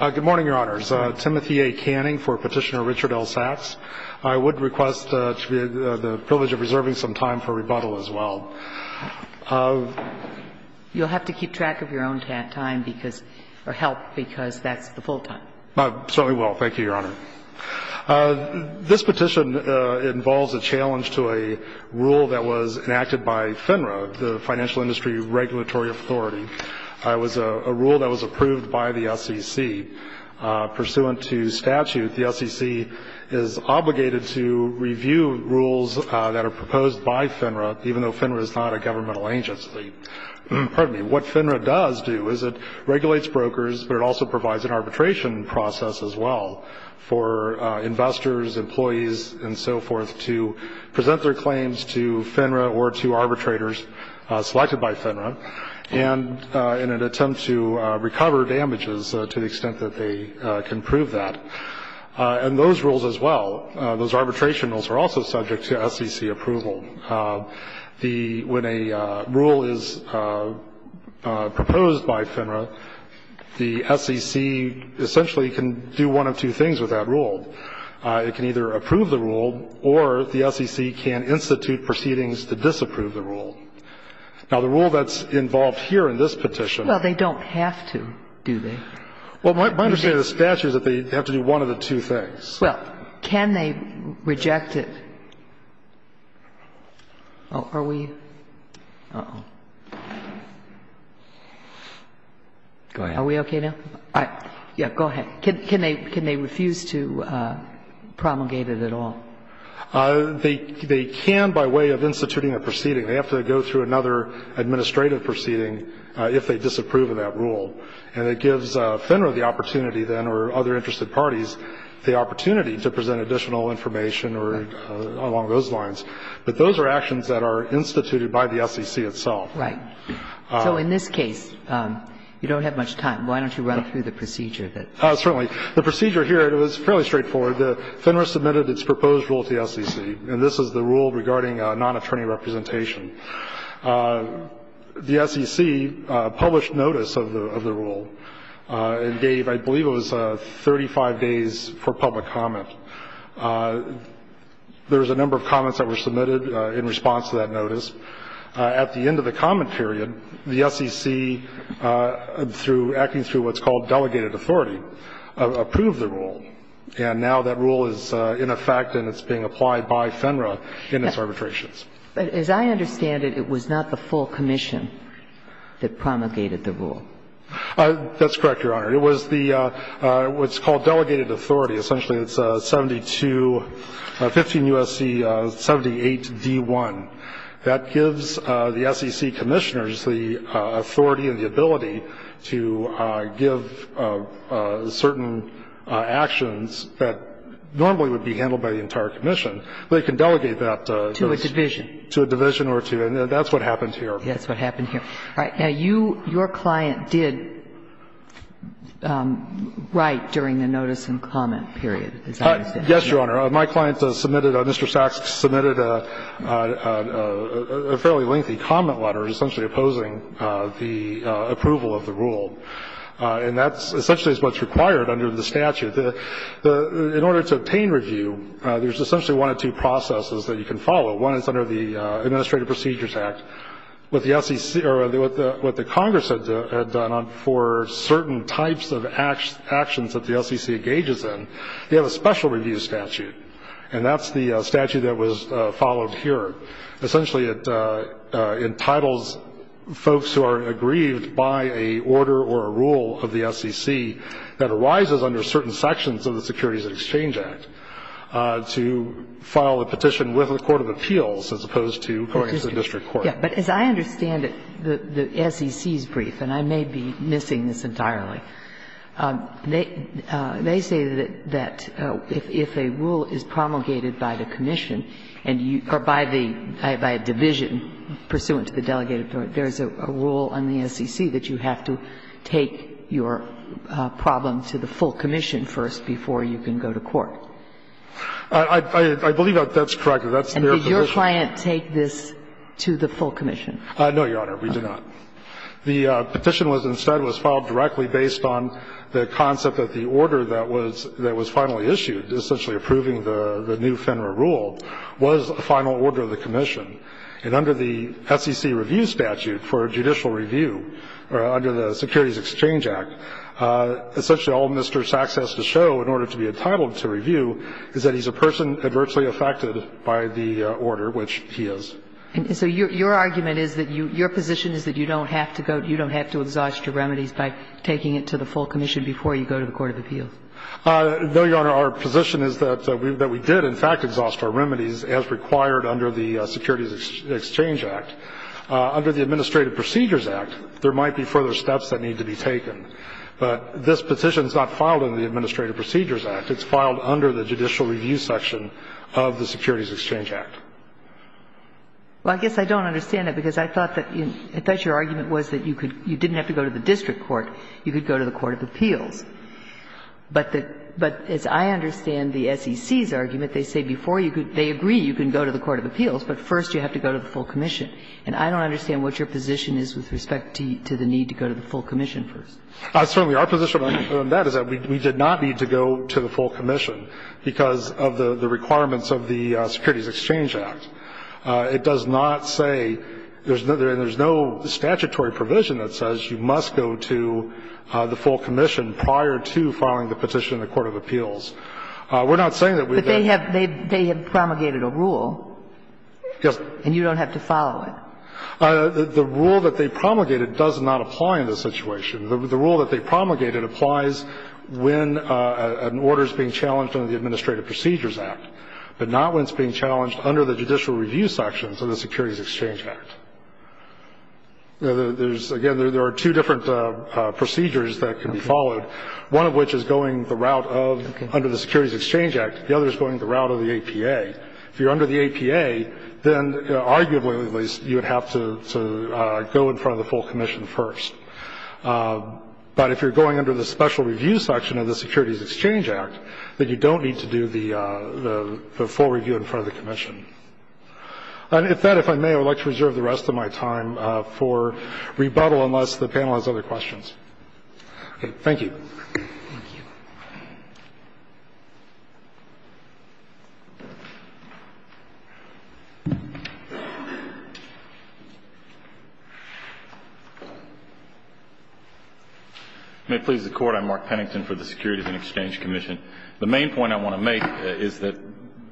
Good morning, Your Honors. Timothy A. Canning for Petitioner Richard L. Sacks. I would request the privilege of reserving some time for rebuttal as well. You'll have to keep track of your own time or help because that's the full time. I certainly will. Thank you, Your Honor. This petition involves a challenge to a rule that was enacted by FINRA, the Financial Industry Regulatory Authority. It was a rule that was approved by the SEC. Pursuant to statute, the SEC is obligated to review rules that are proposed by FINRA, even though FINRA is not a governmental agency. What FINRA does do is it regulates brokers, but it also provides an arbitration process as well for investors, employees and so forth to present their claims to FINRA or to arbitrators selected by FINRA. And in an attempt to recover damages to the extent that they can prove that. And those rules as well, those arbitration rules, are also subject to SEC approval. When a rule is proposed by FINRA, the SEC essentially can do one of two things with that rule. It can either approve the rule or the SEC can institute proceedings to disapprove the rule. Now, the rule that's involved here in this petition. Well, they don't have to, do they? Well, my understanding of the statute is that they have to do one of the two things. Well, can they reject it? Are we? Are we okay now? Yeah, go ahead. Can they refuse to promulgate it at all? They can by way of instituting a proceeding. They have to go through another administrative proceeding if they disapprove of that rule. And it gives FINRA the opportunity then or other interested parties the opportunity to present additional information or along those lines. But those are actions that are instituted by the SEC itself. Right. So in this case, you don't have much time. Why don't you run through the procedure? Certainly. The procedure here, it was fairly straightforward. FINRA submitted its proposed rule to the SEC. And this is the rule regarding non-attorney representation. The SEC published notice of the rule and gave, I believe, it was 35 days for public comment. There was a number of comments that were submitted in response to that notice. At the end of the comment period, the SEC, through acting through what's called delegated authority, approved the rule. And now that rule is in effect and it's being applied by FINRA in its arbitrations. But as I understand it, it was not the full commission that promulgated the rule. That's correct, Your Honor. It was the what's called delegated authority. Essentially, it's 72 15 U.S.C. 78 D1. That gives the SEC commissioners the authority and the ability to give certain actions that normally would be handled by the entire commission. They can delegate that to a division. To a division. To a division or two. And that's what happened here. That's what happened here. All right. Now, you, your client did write during the notice and comment period, as I understand it. Yes, Your Honor. My client submitted, Mr. Sachs submitted a fairly lengthy comment letter essentially opposing the approval of the rule. And that's essentially what's required under the statute. In order to obtain review, there's essentially one of two processes that you can follow. One is under the Administrative Procedures Act. What the SEC or what the Congress had done for certain types of actions that the SEC engages in, they have a special review statute. And that's the statute that was followed here. And essentially it entitles folks who are aggrieved by a order or a rule of the SEC that arises under certain sections of the Securities and Exchange Act to file a petition with the court of appeals as opposed to going to the district court. But as I understand it, the SEC's brief, and I may be missing this entirely, they say that if a rule is promulgated by the commission or by the division pursuant to the delegated authority, there is a rule on the SEC that you have to take your problem to the full commission first before you can go to court. I believe that that's correct. That's their position. And did your client take this to the full commission? No, Your Honor. We did not. The petition was instead was filed directly based on the concept that the order that was finally issued, essentially approving the new FINRA rule, was the final order of the commission. And under the SEC review statute for judicial review, or under the Securities Exchange Act, essentially all Mr. Sachs has to show in order to be entitled to review is that he's a person adversely affected by the order, which he is. And so your argument is that your position is that you don't have to go, you don't have to exhaust your remedies by taking it to the full commission before you go to the court of appeals? No, Your Honor. Our position is that we did, in fact, exhaust our remedies as required under the Securities Exchange Act. Under the Administrative Procedures Act, there might be further steps that need to be taken. But this petition is not filed under the Administrative Procedures Act. It's filed under the judicial review section of the Securities Exchange Act. Well, I guess I don't understand that, because I thought that your argument was that you could you didn't have to go to the district court. You could go to the court of appeals. But as I understand the SEC's argument, they say before they agree you can go to the court of appeals, but first you have to go to the full commission. And I don't understand what your position is with respect to the need to go to the full commission first. Certainly, our position on that is that we did not need to go to the full commission because of the requirements of the Securities Exchange Act. It does not say there's no statutory provision that says you must go to the full commission prior to filing the petition in the court of appeals. We're not saying that we've got to. But they have promulgated a rule. Yes. And you don't have to follow it. The rule that they promulgated does not apply in this situation. The rule that they promulgated applies when an order is being challenged under the Administrative Procedures Act, but not when it's being challenged under the judicial review sections of the Securities Exchange Act. Again, there are two different procedures that can be followed, one of which is going the route of under the Securities Exchange Act. The other is going the route of the APA. If you're under the APA, then arguably at least you would have to go in front of the full commission first. But if you're going under the special review section of the Securities Exchange Act, then you don't need to do the full review in front of the commission. And with that, if I may, I would like to reserve the rest of my time for rebuttal unless the panel has other questions. Okay. Thank you. Thank you. May it please the Court. I'm Mark Pennington for the Securities and Exchange Commission. The main point I want to make is that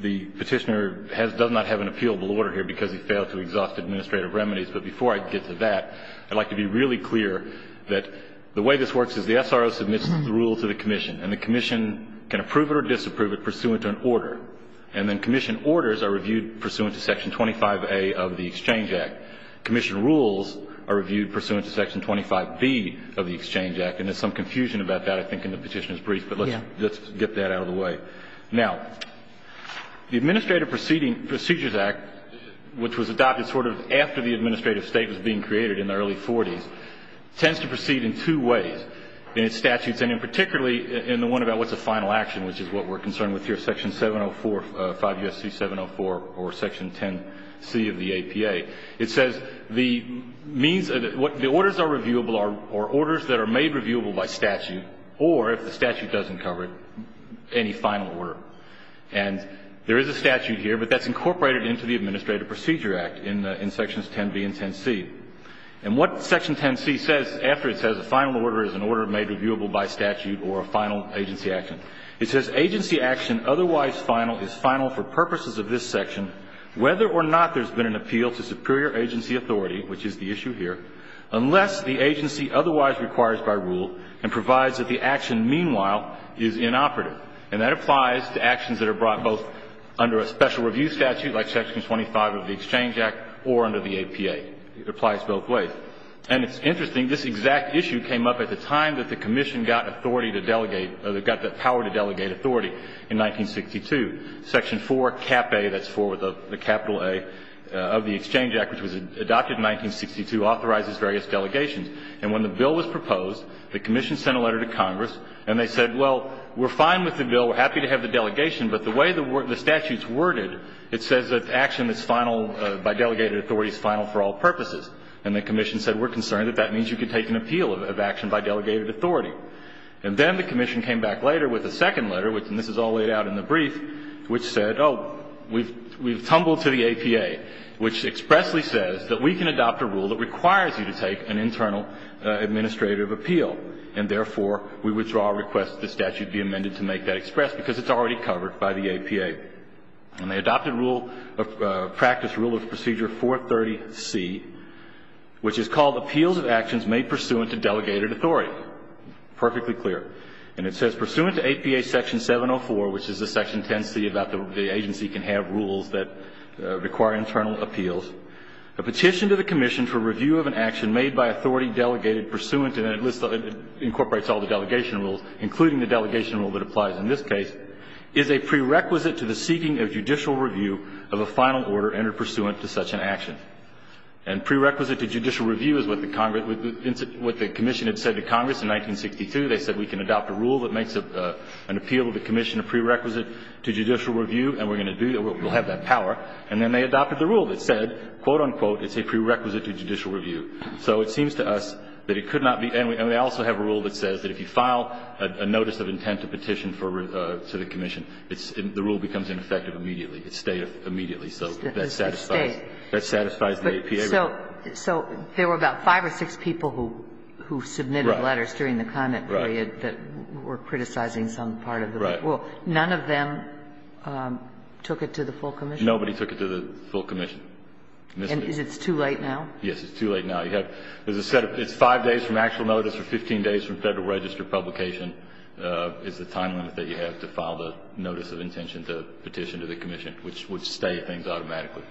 the Petitioner does not have an appealable order here because he failed to exhaust administrative remedies. But before I get to that, I'd like to be really clear that the way this works is the SRO submits the rule to the commission, and the commission can approve it or disapprove it pursuant to an order. And then commission orders are reviewed pursuant to Section 25A of the Exchange Act. Commission rules are reviewed pursuant to Section 25B of the Exchange Act. And there's some confusion about that, I think, in the Petitioner's brief. But let's get that out of the way. Now, the Administrative Procedures Act, which was adopted sort of after the administrative state was being created in the early 40s, tends to proceed in two ways in its statutes and in particularly in the one about what's a final action, which is what we're concerned with here, Section 704, 5 U.S.C. 704 or Section 10C of the APA. It says the means of the orders are reviewable or orders that are made reviewable by statute or, if the statute doesn't cover it, any final order. And there is a statute here, but that's incorporated into the Administrative Procedures Act in Sections 10B and 10C. And what Section 10C says after it says a final order is an order made reviewable by statute or a final agency action, it says agency action otherwise final is final for purposes of this section whether or not there's been an appeal to superior agency authority, which is the issue here, unless the agency otherwise requires by rule and provides that the action, meanwhile, is inoperative. And that applies to actions that are brought both under a special review statute like Section 25 of the Exchange Act or under the APA. It applies both ways. And it's interesting. This exact issue came up at the time that the Commission got authority to delegate or got the power to delegate authority in 1962. Section 4, Cap A, that's for the capital A of the Exchange Act, which was adopted in 1962, authorizes various delegations. And when the bill was proposed, the Commission sent a letter to Congress, and they said, well, we're fine with the bill. We're happy to have the delegation. But the way the statute's worded, it says that action that's final by delegated authority is final for all purposes. And the Commission said, we're concerned that that means you can take an appeal of action by delegated authority. And then the Commission came back later with a second letter, and this is all laid out in the brief, which said, oh, we've tumbled to the APA, which expressly says that we can adopt a rule that requires you to take an internal administrative appeal, and therefore, we withdraw our request that the statute be amended to make that express, because it's already covered by the APA. And they adopted rule of practice, rule of procedure 430C, which is called appeals of actions made pursuant to delegated authority. Perfectly clear. And it says, pursuant to APA section 704, which is the section 10C about the agency can have rules that require internal appeals, a petition to the Commission for review of an action made by authority delegated pursuant, and it incorporates all the delegation rules, including the delegation rule that applies in this case, is a prerequisite to the seeking of judicial review of a final order entered pursuant to such an action. And prerequisite to judicial review is what the Congress – what the Commission had said to Congress in 1962. They said, we can adopt a rule that makes an appeal to the Commission a prerequisite to judicial review, and we're going to do – we'll have that power. And then they adopted the rule that said, quote, unquote, it's a prerequisite to judicial review. So it seems to us that it could not be – and they also have a rule that says that if you file a notice of intent to petition for – to the Commission, it's – the rule becomes ineffective immediately. It stayed immediately. So that satisfies the APA rule. So there were about five or six people who submitted letters during the comment period that were criticizing some part of the rule. Right. None of them took it to the full Commission? Nobody took it to the full Commission. And it's too late now? Yes, it's too late now. You have – there's a set of – it's five days from actual notice or 15 days from Federal Register publication is the time limit that you have to file the notice of intention to petition to the Commission, which would stay things automatically.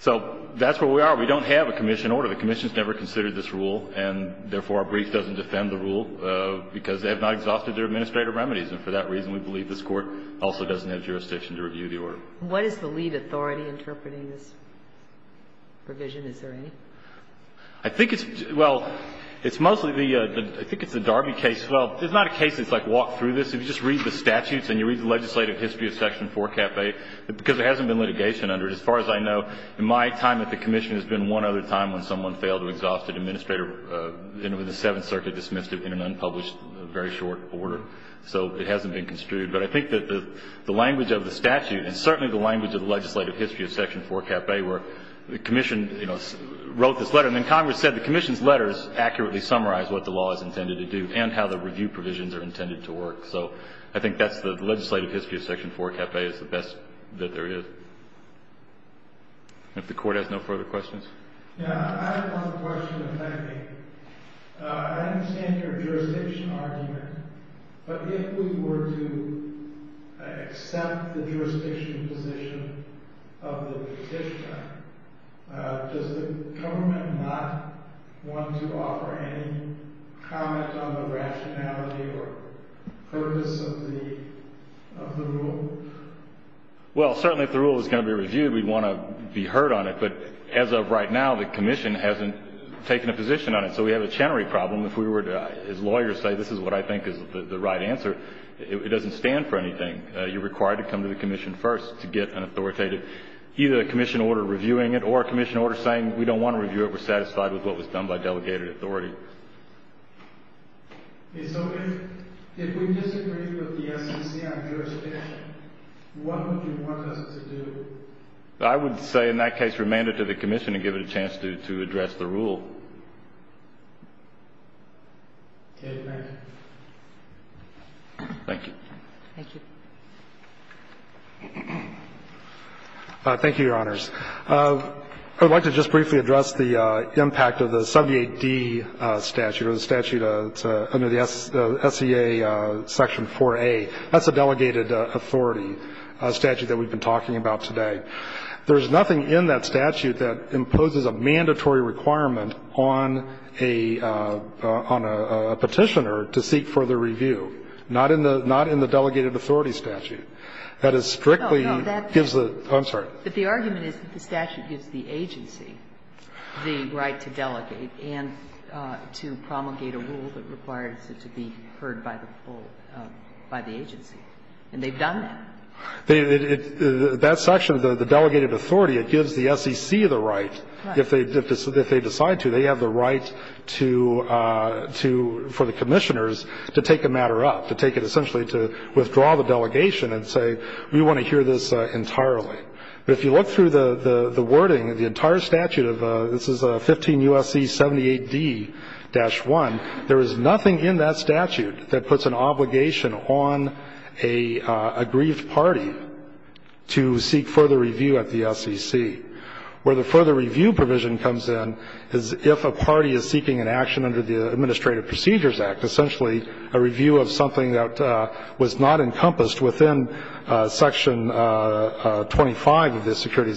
So that's where we are. We don't have a Commission order. The Commission has never considered this rule, and therefore our brief doesn't defend the rule because they have not exhausted their administrative remedies. And for that reason, we believe this Court also doesn't have jurisdiction to review the order. What is the lead authority interpreting this provision? Is there any? I think it's – well, it's mostly the – I think it's the Darby case. Well, it's not a case that's, like, walked through this. If you just read the statutes and you read the legislative history of Section 4, Cap 8, because there hasn't been litigation under it. As far as I know, in my time at the Commission, there's been one other time when someone failed to exhaust an administrator in the Seventh Circuit, dismissed it in an unpublished, very short order. So it hasn't been construed. But I think that the language of the statute, and certainly the language of the legislative history of Section 4, Cap 8, where the Commission, you know, wrote this letter. And then Congress said the Commission's letters accurately summarize what the law is intended to do and how the review provisions are intended to work. So I think that's the legislative history of Section 4, Cap 8 is the best that there is. If the Court has no further questions. Yeah, I have one question, if I may. I understand your jurisdiction argument. But if we were to accept the jurisdiction position of the petitioner, does the government not want to offer any comment on the rationality or purpose of the rule? Well, certainly if the rule is going to be reviewed, we'd want to be heard on it. But as of right now, the Commission hasn't taken a position on it. So we have a Chenery problem. If we were to, as lawyers say, this is what I think is the right answer, it doesn't stand for anything. You're required to come to the Commission first to get an authoritative, either a Commission order reviewing it or a Commission order saying we don't want to review it, we're satisfied with what was done by delegated authority. And so if we disagree with the SEC on jurisdiction, what would you want us to do? I would say in that case, remand it to the Commission and give it a chance to address the rule. Okay. Thank you. Thank you. Thank you, Your Honors. I would like to just briefly address the impact of the 78D statute or the statute under the SCA section 4A. That's a delegated authority statute that we've been talking about today. There is nothing in that statute that imposes a mandatory requirement on a Petitioner to seek further review. Not in the delegated authority statute. That is strictly gives the – oh, I'm sorry. But the argument is that the statute gives the agency the right to delegate and to promulgate a rule that requires it to be heard by the agency. And they've done that. That section, the delegated authority, it gives the SEC the right, if they decide to, they have the right to – for the Commissioners to take a matter up, to take it essentially to withdraw the delegation and say we want to hear this entirely. But if you look through the wording of the entire statute of – this is 15 U.S.C. 78D-1. There is nothing in that statute that puts an obligation on a grieved party to seek further review at the SEC. Where the further review provision comes in is if a party is seeking an action under the Administrative Procedures Act, essentially a review of something that was not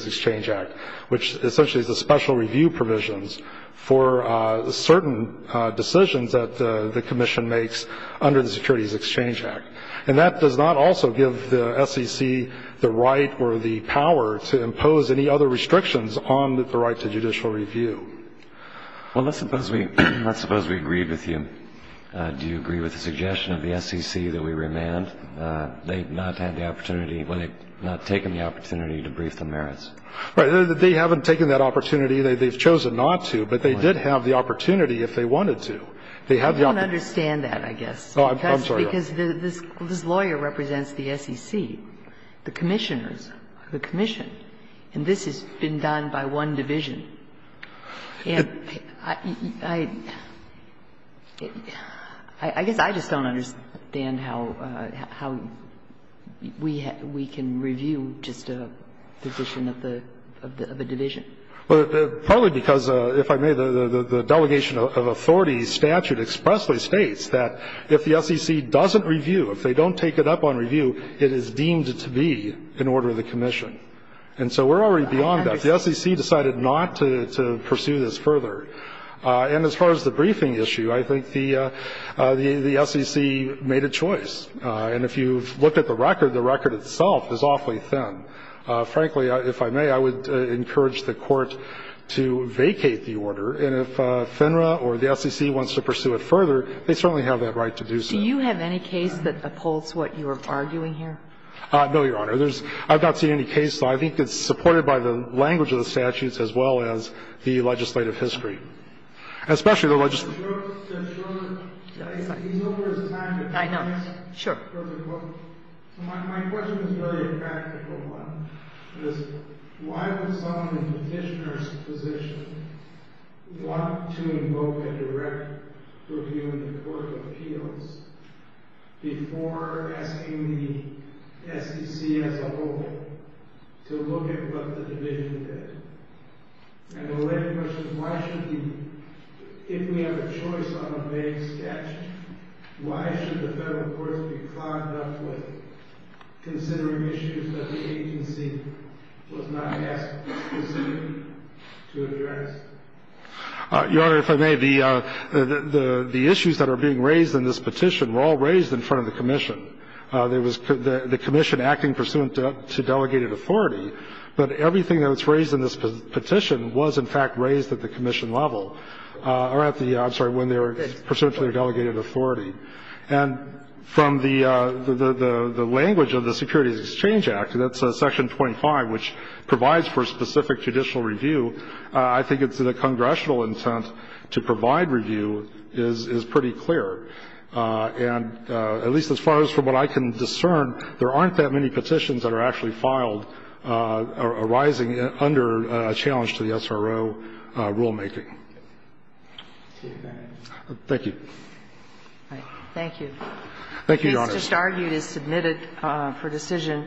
exchange act, which essentially is a special review provisions for certain decisions that the Commission makes under the Securities Exchange Act. And that does not also give the SEC the right or the power to impose any other restrictions on the right to judicial review. Well, let's suppose we agreed with you. Do you agree with the suggestion of the SEC that we remand? I don't agree with that. I agree with the suggestion that the SEC should not have the opportunity, when they've not taken the opportunity, to brief the merits. Right. They haven't taken that opportunity. They've chosen not to, but they did have the opportunity if they wanted to. They have the opportunity. I don't understand that, I guess. I'm sorry. Because this lawyer represents the SEC, the Commissioners, the Commission. And this has been done by one division. And I guess I just don't understand how we can review just a position of a division. Well, partly because, if I may, the delegation of authority statute expressly states that if the SEC doesn't review, if they don't take it up on review, it is deemed to be in order of the Commission. And so we're already beyond that. The SEC decided not to pursue this further. And as far as the briefing issue, I think the SEC made a choice. And if you've looked at the record, the record itself is awfully thin. Frankly, if I may, I would encourage the Court to vacate the order. And if FINRA or the SEC wants to pursue it further, they certainly have that right to do so. Do you have any case that upholds what you are arguing here? No, Your Honor. I don't have any case that upholds what you are arguing here. I've not seen any case that I think is supported by the language of the statutes as well as the legislative history, especially the legislative history. I know. Sure. So my question is a very practical one. Why would someone in the petitioner's position want to invoke a direct review in the Court of Appeals before asking the SEC as a whole to look at what the division did? And the later question is, if we have a choice on a vague statute, why should the Federal courts be clogged up with considering issues that the agency was not asked to consider to address? Your Honor, if I may, the issues that are being raised in this petition were all raised in front of the commission. There was the commission acting pursuant to delegated authority, but everything that was raised in this petition was, in fact, raised at the commission level or at the, I'm sorry, when they were pursuant to their delegated authority. And from the language of the Securities Exchange Act, that's Section 25, which provides for specific judicial review, I think it's the congressional intent to provide review is pretty clear. And at least as far as from what I can discern, there aren't that many petitions that are actually filed arising under a challenge to the SRO rulemaking. Thank you. Thank you. Thank you, Your Honor. The case just argued is submitted for decision.